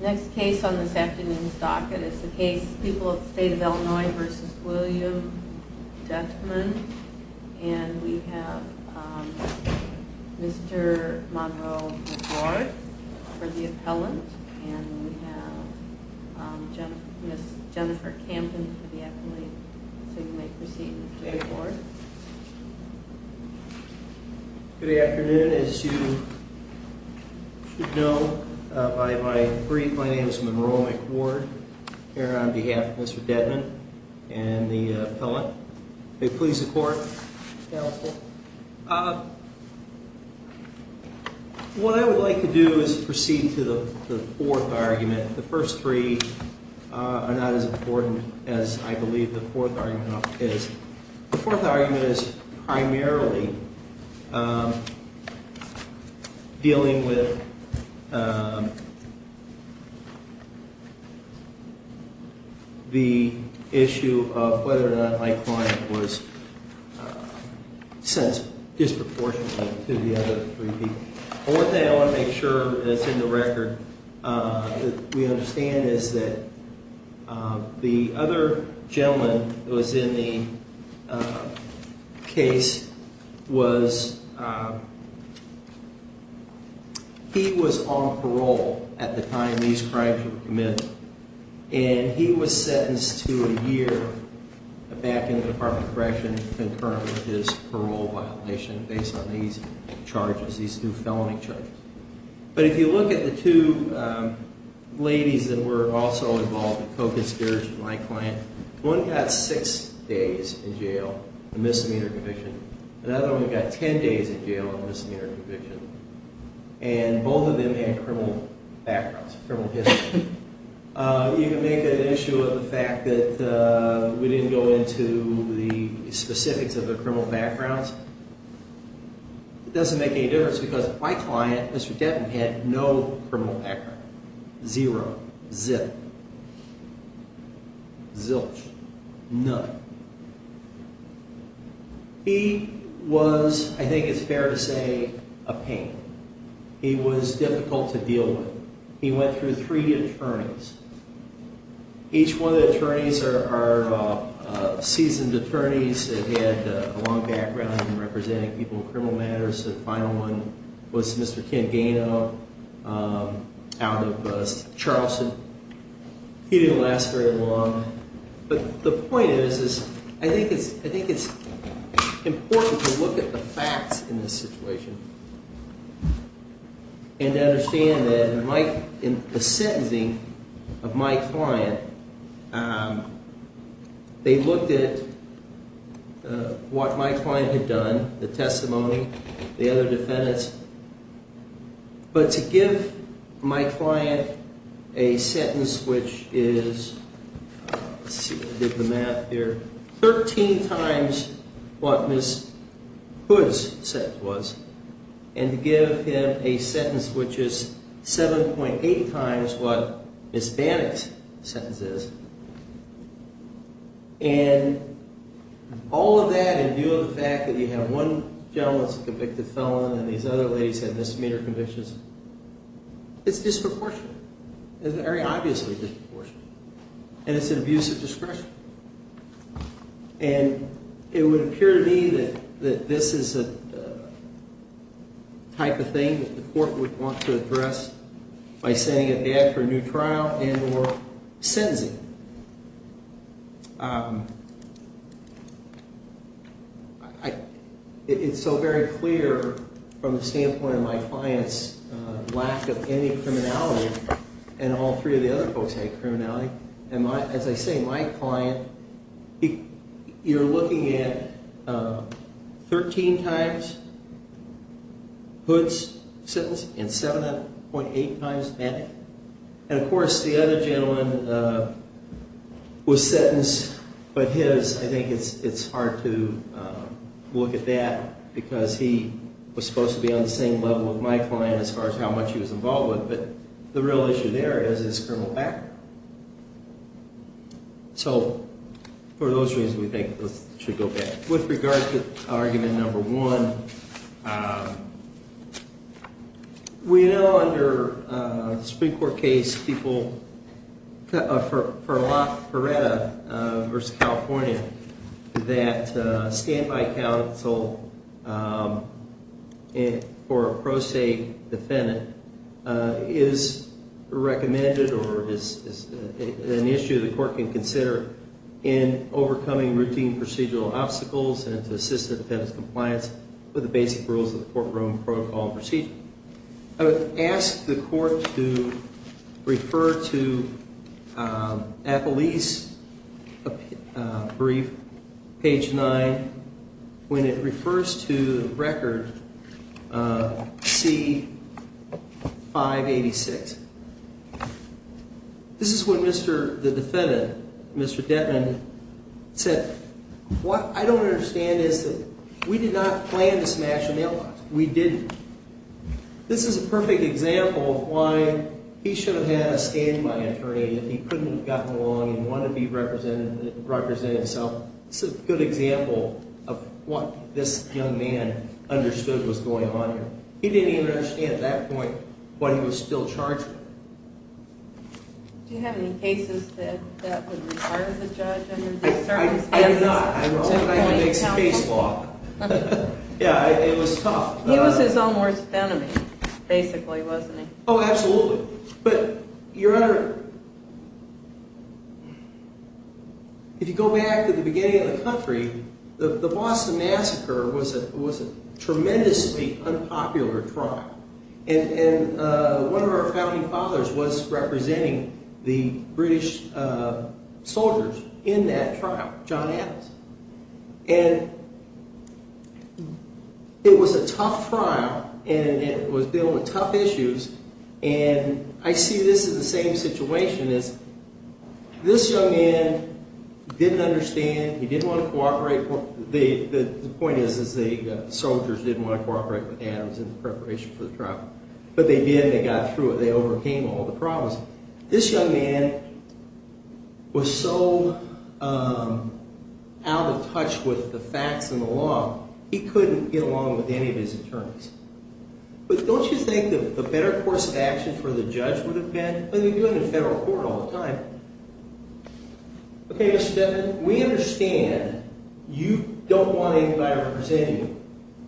Next case on this afternoon's docket is the case People of the State of Illinois v. William Doedtman And we have Mr. Monroe McClure for the appellant And we have Ms. Jennifer Campin for the appellate So you may proceed, Mr. McClure Good afternoon. As you should know, my name is Monroe McClure Here on behalf of Mr. Doedtman and the appellant May it please the court What I would like to do is proceed to the fourth argument The first three are not as important as I believe the fourth argument is The fourth argument is primarily dealing with the issue of whether or not my client was sensible Disproportionately to the other three people The fourth thing I want to make sure is in the record That we understand is that the other gentleman that was in the case was He was on parole at the time these crimes were committed And he was sentenced to a year back in the Department of Correction In terms of his parole violation based on these charges, these two felony charges But if you look at the two ladies that were also involved in co-conspiracy with my client One got six days in jail, a misdemeanor conviction Another one got ten days in jail, a misdemeanor conviction And both of them had criminal backgrounds, criminal histories You can make an issue of the fact that we didn't go into the specifics of the criminal backgrounds It doesn't make any difference because my client, Mr. Devon, had no criminal background Zero, zero, zilch, none He was, I think it's fair to say, a pain He was difficult to deal with He went through three attorneys Each one of the attorneys are seasoned attorneys They had a long background in representing people in criminal matters The final one was Mr. Ken Gano out of Charleston He didn't last very long But the point is, I think it's important to look at the facts in this situation And understand that in the sentencing of my client They looked at what my client had done, the testimony, the other defendants But to give my client a sentence which is Let's see if I did the math here Thirteen times what Ms. Hood's sentence was And to give him a sentence which is 7.8 times what Ms. Bannock's sentence is And all of that in view of the fact that you have one gentleman that's a convicted felon And these other ladies have misdemeanor convictions It's disproportionate It's very obviously disproportionate And it's an abuse of discretion And it would appear to me that this is a type of thing that the court would want to address By sending it back for a new trial and or sentencing It's so very clear from the standpoint of my client's lack of any criminality And all three of the other folks had criminality And as I say, my client, you're looking at 13 times Hood's sentence and 7.8 times Bannock's And of course the other gentleman was sentenced But his, I think it's hard to look at that Because he was supposed to be on the same level with my client as far as how much he was involved with But the real issue there is, is criminal back So for those reasons we think this should go back With regards to argument number one We know under the Supreme Court case for La Feretta v. California That standby counsel for a pro se defendant is recommended Or is an issue the court can consider in overcoming routine procedural obstacles And to assist the defendant's compliance with the basic rules of the courtroom protocol and procedure I would ask the court to refer to Appellee's brief, page 9 When it refers to the record C586 This is when the defendant, Mr. Dettman, said What I don't understand is that we did not plan to smash the mailbox We didn't This is a perfect example of why he should have had a standby attorney If he couldn't have gotten along and wanted to be represented himself This is a good example of what this young man understood was going on here He didn't even understand at that point why he was still charged Do you have any cases that would require the judge under these circumstances? I do not, I don't I have to make some case law Yeah, it was tough He was his own worst enemy, basically, wasn't he? Oh, absolutely If you go back to the beginning of the country The Boston Massacre was a tremendously unpopular trial And one of our founding fathers was representing the British soldiers in that trial John Adams And it was a tough trial And it was dealing with tough issues And I see this as the same situation This young man didn't understand He didn't want to cooperate The point is that the soldiers didn't want to cooperate with Adams in the preparation for the trial But they did, they got through it, they overcame all the problems This young man was so out of touch with the facts and the law He couldn't get along with any of his attorneys But don't you think the better course of action for the judge would have been And they do it in federal court all the time Okay, Mr. Devin, we understand you don't want anybody representing you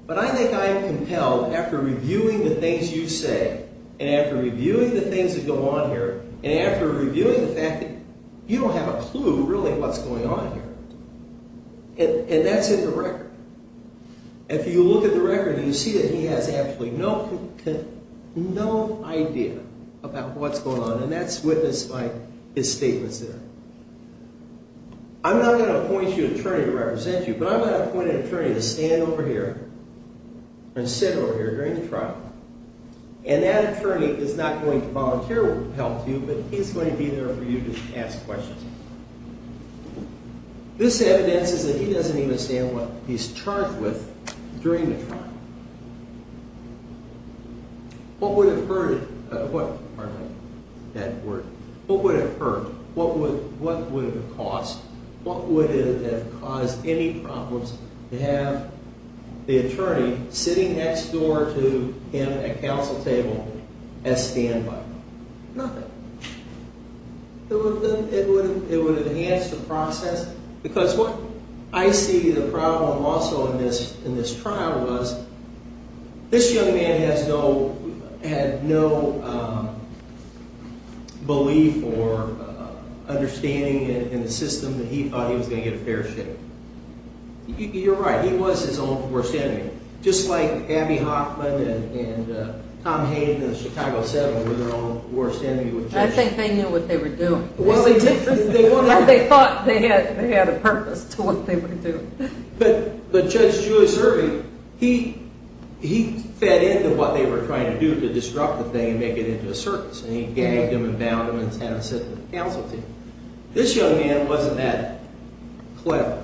But I think I am compelled, after reviewing the things you say And after reviewing the things that go on here And after reviewing the fact that you don't have a clue, really, what's going on here And that's in the record If you look at the record, you see that he has absolutely no clue No idea about what's going on And that's witnessed by his statements there I'm not going to appoint you an attorney to represent you But I'm going to appoint an attorney to stand over here And sit over here during the trial And that attorney is not going to volunteer help to you But he's going to be there for you to ask questions This evidences that he doesn't even understand what he's charged with during the trial What would have hurt... Pardon me, that word What would have hurt, what would have caused What would have caused any problems To have the attorney sitting next door to him at counsel table as standby Nothing It would have enhanced the process Because what I see the problem also in this trial was This young man had no belief or understanding in the system That he thought he was going to get a fair share You're right, he was his own worst enemy Just like Abbey Hoffman and Tom Hayden in the Chicago 7 were their own worst enemy I think they knew what they were doing They thought they had a purpose to what they were doing But Judge Julius Irving, he fed into what they were trying to do To disrupt the thing and make it into a circus And he gagged them and bound them and had them sit at the counsel table This young man wasn't that clever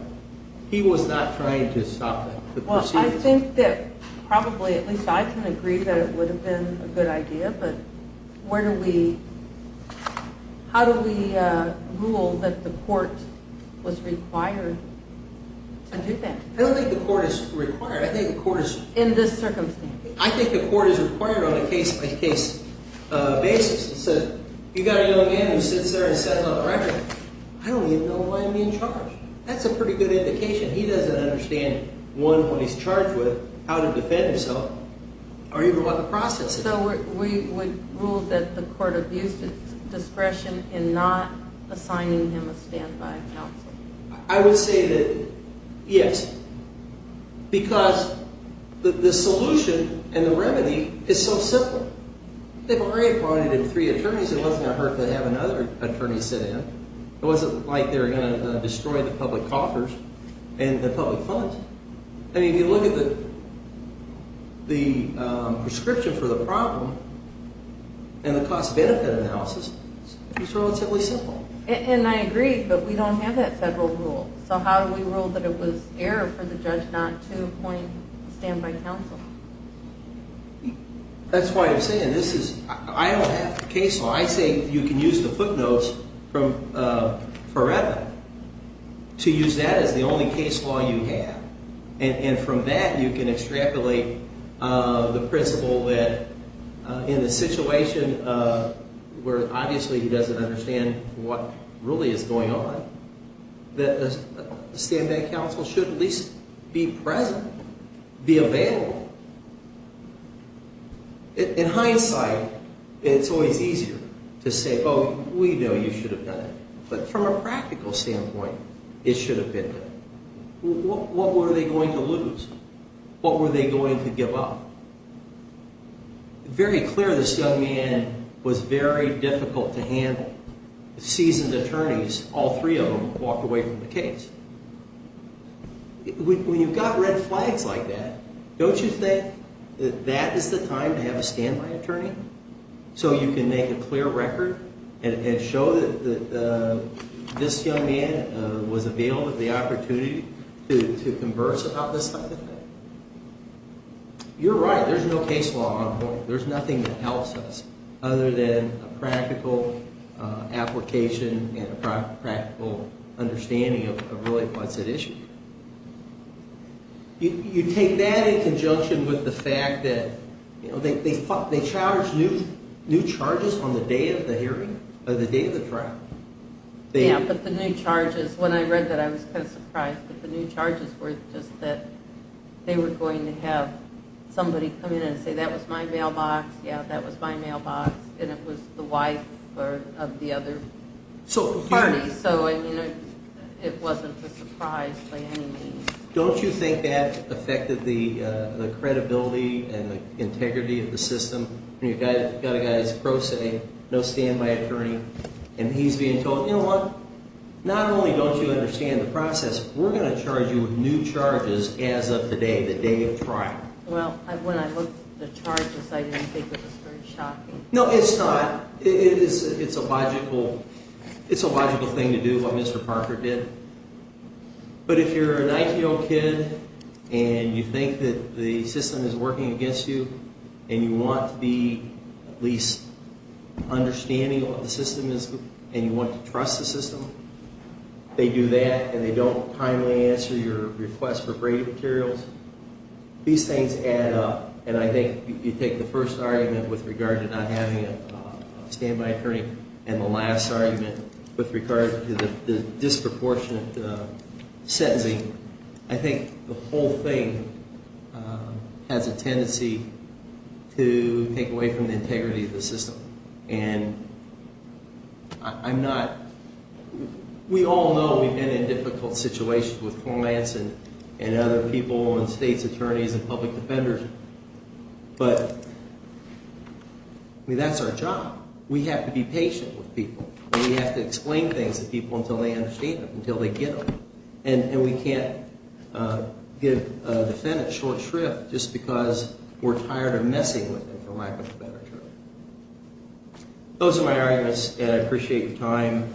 He was not trying to stop the proceedings I think that probably, at least I can agree that it would have been a good idea But how do we rule that the court was required to do that? I don't think the court is required In this circumstance I think the court is required on a case-by-case basis You've got a young man who sits there and says on the record I don't even know why I'm being charged That's a pretty good indication he doesn't understand One, what he's charged with, how to defend himself Or even what the process is So we would rule that the court abused its discretion In not assigning him a stand-by counsel I would say that, yes Because the solution and the remedy is so simple They've already appointed three attorneys It wasn't a hurt to have another attorney sit in It wasn't like they were going to destroy the public coffers And the public funds And if you look at the prescription for the problem And the cost-benefit analysis It's relatively simple And I agree, but we don't have that federal rule So how do we rule that it was error for the judge not to appoint a stand-by counsel? That's why I'm saying this is I don't have the case law I say you can use the footnotes from Forever To use that as the only case law you have And from that you can extrapolate the principle that In a situation where obviously he doesn't understand what really is going on That a stand-by counsel should at least be present Be available In hindsight, it's always easier to say Oh, we know you should have done it But from a practical standpoint, it should have been done What were they going to lose? What were they going to give up? Very clear this young man was very difficult to handle Seasoned attorneys, all three of them, walked away from the case When you've got red flags like that Don't you think that that is the time to have a stand-by attorney? So you can make a clear record And show that this young man was available With the opportunity to converse about this type of thing You're right, there's no case law on board There's nothing that helps us Other than a practical application And a practical understanding of really what's at issue You take that in conjunction with the fact that They charge new charges on the day of the hearing Or the day of the trial Yeah, but the new charges When I read that I was kind of surprised But the new charges were just that They were going to have somebody come in and say That was my mailbox, yeah, that was my mailbox And it was the wife of the other party So it wasn't a surprise by any means Don't you think that affected the credibility And the integrity of the system? You've got a guy that's a pro se, no stand-by attorney And he's being told, you know what? Not only don't you understand the process We're going to charge you with new charges as of today, the day of trial Well, when I looked at the charges I didn't think it was very shocking No, it's not, it's a logical thing to do, what Mr. Parker did But if you're a 19-year-old kid And you think that the system is working against you And you want to be at least understanding of what the system is And you want to trust the system They do that and they don't kindly answer your request for braiding materials These things add up And I think you take the first argument with regard to not having a stand-by attorney And the last argument with regard to the disproportionate sentencing I think the whole thing has a tendency to take away from the integrity of the system And I'm not... We all know we've been in difficult situations with clients And other people and states' attorneys and public defenders But, I mean, that's our job We have to be patient with people And we have to explain things to people until they understand them, until they get them And we can't give a defendant short shrift Just because we're tired of messing with them for lack of a better term Those are my arguments and I appreciate your time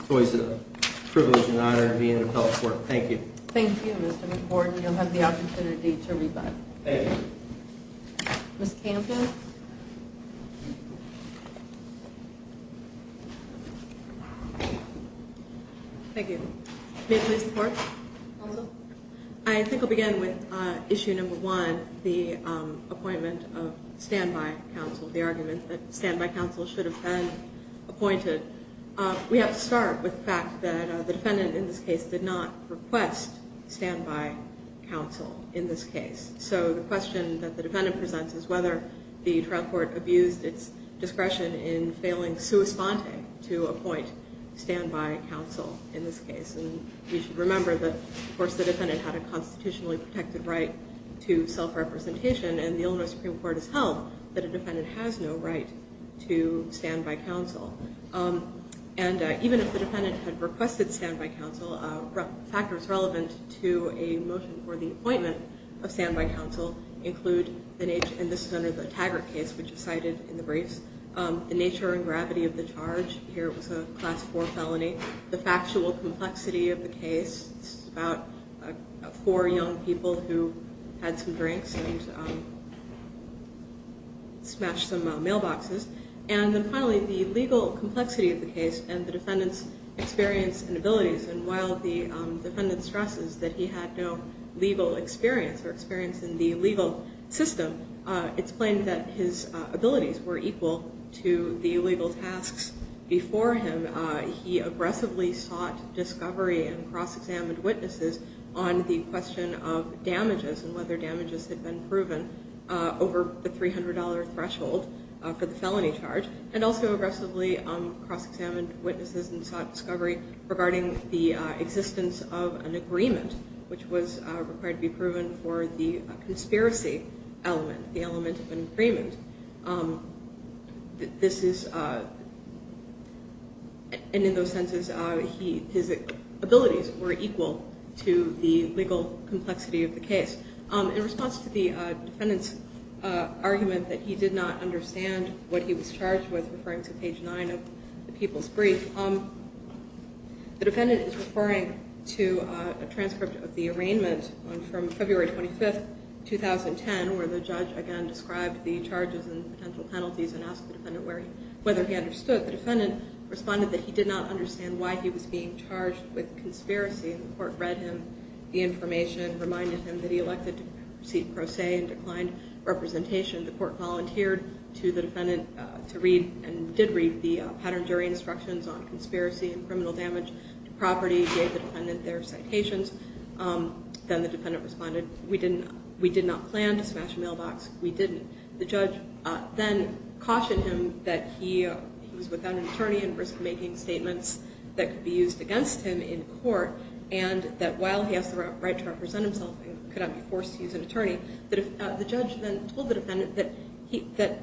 It's always a privilege and honor to be in the public court Thank you Thank you, Mr. McWhorton You'll have the opportunity to rebut Thank you Ms. Campin Thank you May I please report? Counsel? I think I'll begin with issue number one The appointment of stand-by counsel The argument that stand-by counsel should have been appointed We have to start with the fact that the defendant in this case did not request stand-by counsel in this case So the question that the defendant presents is whether the trial court abused its discretion In failing sua sponte to appoint stand-by counsel in this case And we should remember that, of course, the defendant had a constitutionally protected right to self-representation And the Illinois Supreme Court has held that a defendant has no right to stand-by counsel And even if the defendant had requested stand-by counsel Factors relevant to a motion for the appointment of stand-by counsel include And this is under the Taggart case, which is cited in the briefs The nature and gravity of the charge Here it was a class four felony The factual complexity of the case This is about four young people who had some drinks and smashed some mailboxes And then finally, the legal complexity of the case and the defendant's experience and abilities And while the defendant stresses that he had no legal experience or experience in the legal system It's plain that his abilities were equal to the legal tasks before him He aggressively sought discovery and cross-examined witnesses on the question of damages And whether damages had been proven over the $300 threshold for the felony charge And also aggressively cross-examined witnesses and sought discovery regarding the existence of an agreement Which was required to be proven for the conspiracy element, the element of an agreement And in those senses, his abilities were equal to the legal complexity of the case In response to the defendant's argument that he did not understand what he was charged with Referring to page nine of the People's Brief The defendant is referring to a transcript of the arraignment from February 25th, 2010 Where the judge, again, described the charges and potential penalties And asked the defendant whether he understood The defendant responded that he did not understand why he was being charged with conspiracy And the court read him the information Reminded him that he elected to proceed pro se and declined representation The court volunteered to the defendant to read And did read the pattern jury instructions on conspiracy and criminal damage to property Gave the defendant their citations Then the defendant responded, we did not plan to smash a mailbox, we didn't The judge then cautioned him that he was without an attorney And risk-making statements that could be used against him in court And that while he has the right to represent himself, he could not be forced to use an attorney The judge then told the defendant that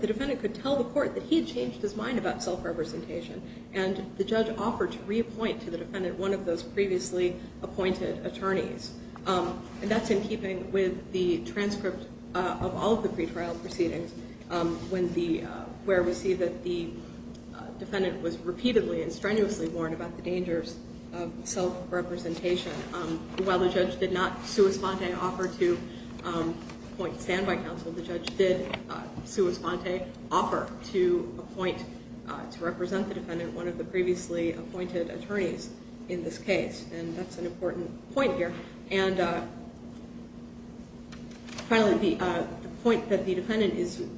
the defendant could tell the court That he had changed his mind about self-representation And the judge offered to reappoint to the defendant one of those previously appointed attorneys And that's in keeping with the transcript of all of the pretrial proceedings Where we see that the defendant was repeatedly and strenuously warned about the dangers of self-representation While the judge did not sua sponte offer to appoint standby counsel The judge did sua sponte offer to appoint, to represent the defendant One of the previously appointed attorneys in this case And that's an important point here And finally the point that the defendant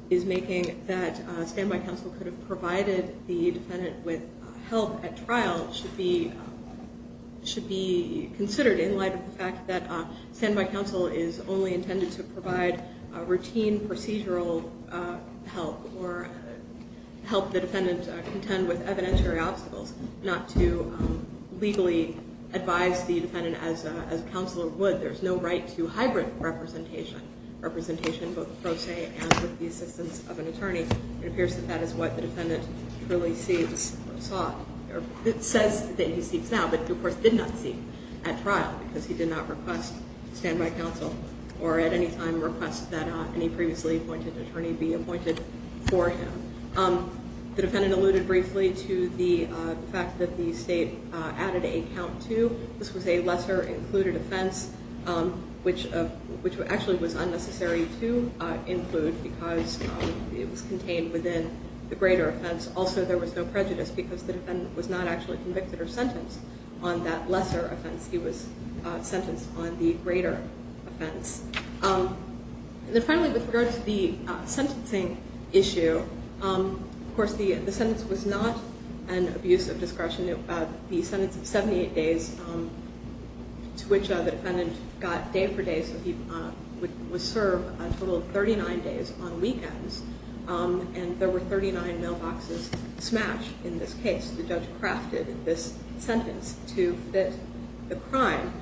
is making That standby counsel could have provided the defendant with help at trial Should be considered in light of the fact that standby counsel is only intended to provide Routine procedural help or help the defendant contend with evidentiary obstacles Not to legally advise the defendant as a counselor would There's no right to hybrid representation, representation both pro se and with the assistance of an attorney It appears that that is what the defendant truly seeks or sought It says that he seeks now, but of course did not seek at trial Because he did not request standby counsel Or at any time request that any previously appointed attorney be appointed for him The defendant alluded briefly to the fact that the state added a count to This was a lesser included offense Which actually was unnecessary to include because it was contained within the greater offense Also there was no prejudice because the defendant was not actually convicted or sentenced On that lesser offense, he was sentenced on the greater offense And then finally with regard to the sentencing issue Of course the sentence was not an abuse of discretion The sentence of 78 days to which the defendant got day for day So he was served a total of 39 days on weekends And there were 39 mailboxes smashed in this case The judge crafted this sentence to fit the crime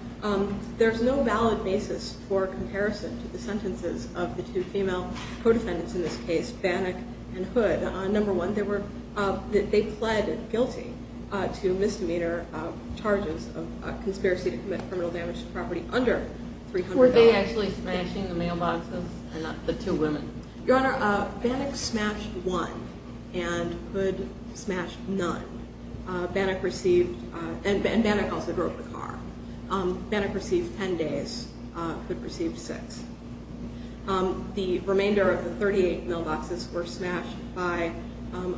There's no valid basis for comparison to the sentences of the two female co-defendants in this case Bannock and Hood Number one, they pled guilty to misdemeanor charges of conspiracy to commit criminal damage to property under 300 hours Were they actually smashing the mailboxes and not the two women? Your Honor, Bannock smashed one and Hood smashed none Bannock received, and Bannock also broke the car Bannock received 10 days, Hood received 6 The remainder of the 38 mailboxes were smashed by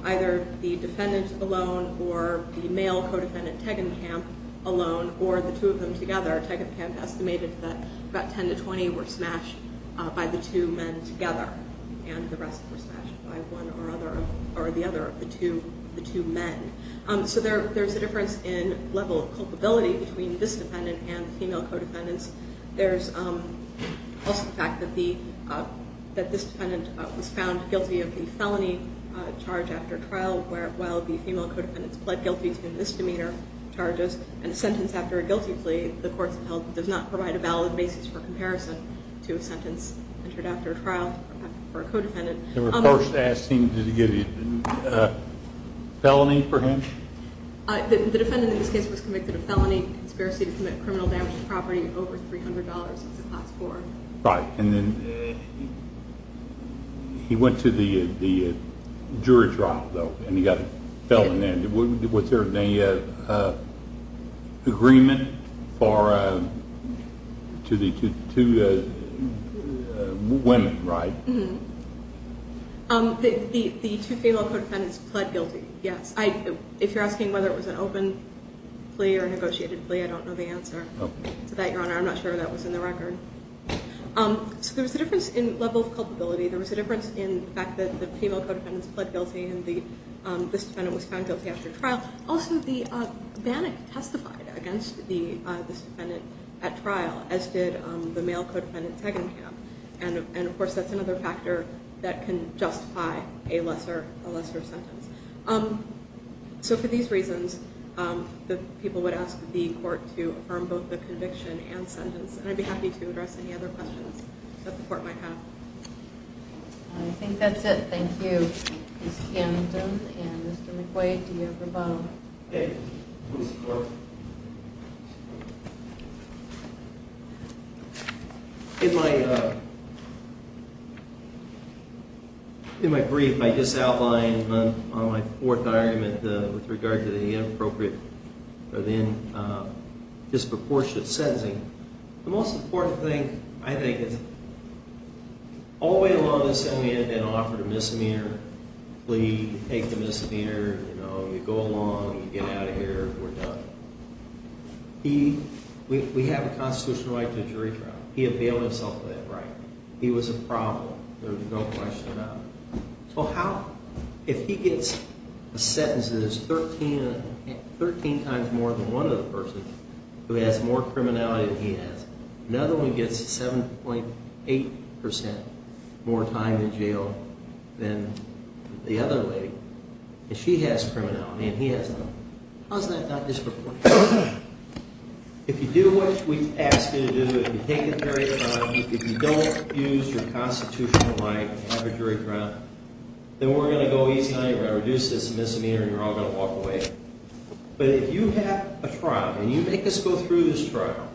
either the defendant alone Or the male co-defendant Teggenkamp alone or the two of them together Judge Teggenkamp estimated that about 10 to 20 were smashed by the two men together And the rest were smashed by one or the other of the two men So there's a difference in level of culpability between this defendant and the female co-defendants There's also the fact that this defendant was found guilty of the felony charge after trial While the female co-defendants pled guilty to misdemeanor charges And a sentence after a guilty plea, the courts of health does not provide a valid basis for comparison To a sentence entered after a trial for a co-defendant They were first asking, did he get a felony for him? The defendant in this case was convicted of felony conspiracy to commit criminal damage to property over $300 Right, and then he went to the jury trial though Was there any agreement to the two women, right? The two female co-defendants pled guilty, yes If you're asking whether it was an open plea or a negotiated plea, I don't know the answer to that, your honor I'm not sure that was in the record There was a difference in the fact that the female co-defendants pled guilty and this defendant was found guilty after trial Also, the bannock testified against this defendant at trial, as did the male co-defendant Teggenkamp And of course that's another factor that can justify a lesser sentence So for these reasons, the people would ask the court to affirm both the conviction and sentence And I'd be happy to address any other questions that the court might have I think that's it, thank you Ms. Cannington and Mr. McQuaid, do you have a comment? Okay, please support In my brief, I just outlined on my fourth argument with regard to the inappropriate or then disproportionate sentencing The most important thing, I think, is all the way along, this gentleman had been offered a misdemeanor plea Take the misdemeanor, you know, you go along, you get out of here, we're done We have a constitutional right to a jury trial, he availed himself of that right He was a problem, there was no question about it If he gets a sentence that is 13 times more than one of the persons who has more criminality than he has Another one gets 7.8% more time in jail than the other lady And she has criminality and he has not How is that not disproportionate? If you do what we ask you to do, if you don't use your constitutional right to have a jury trial Then we're going to go easy on you, we're going to reduce this misdemeanor and you're all going to walk away But if you have a trial and you make us go through this trial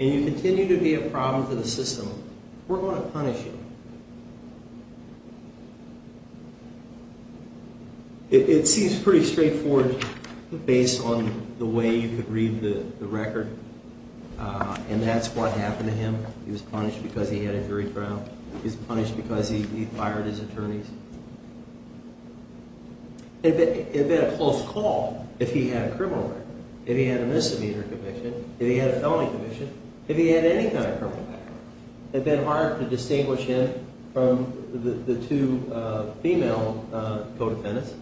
And you continue to be a problem to the system, we're going to punish you It seems pretty straightforward based on the way you could read the record And that's what happened to him, he was punished because he had a jury trial He was punished because he fired his attorneys It would have been a close call if he had a criminal record If he had a misdemeanor conviction, if he had a felony conviction, if he had any kind of criminal record It would have been hard to distinguish him from the two female co-defendants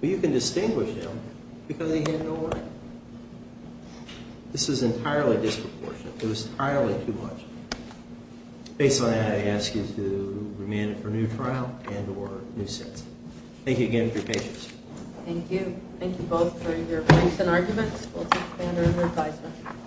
But you can distinguish them because they had no right This is entirely disproportionate, it was entirely too much Based on that I ask you to remand him for a new trial and or new sentence Thank you again for your patience Thank you, thank you both for your points and arguments We'll take a stand on your advisement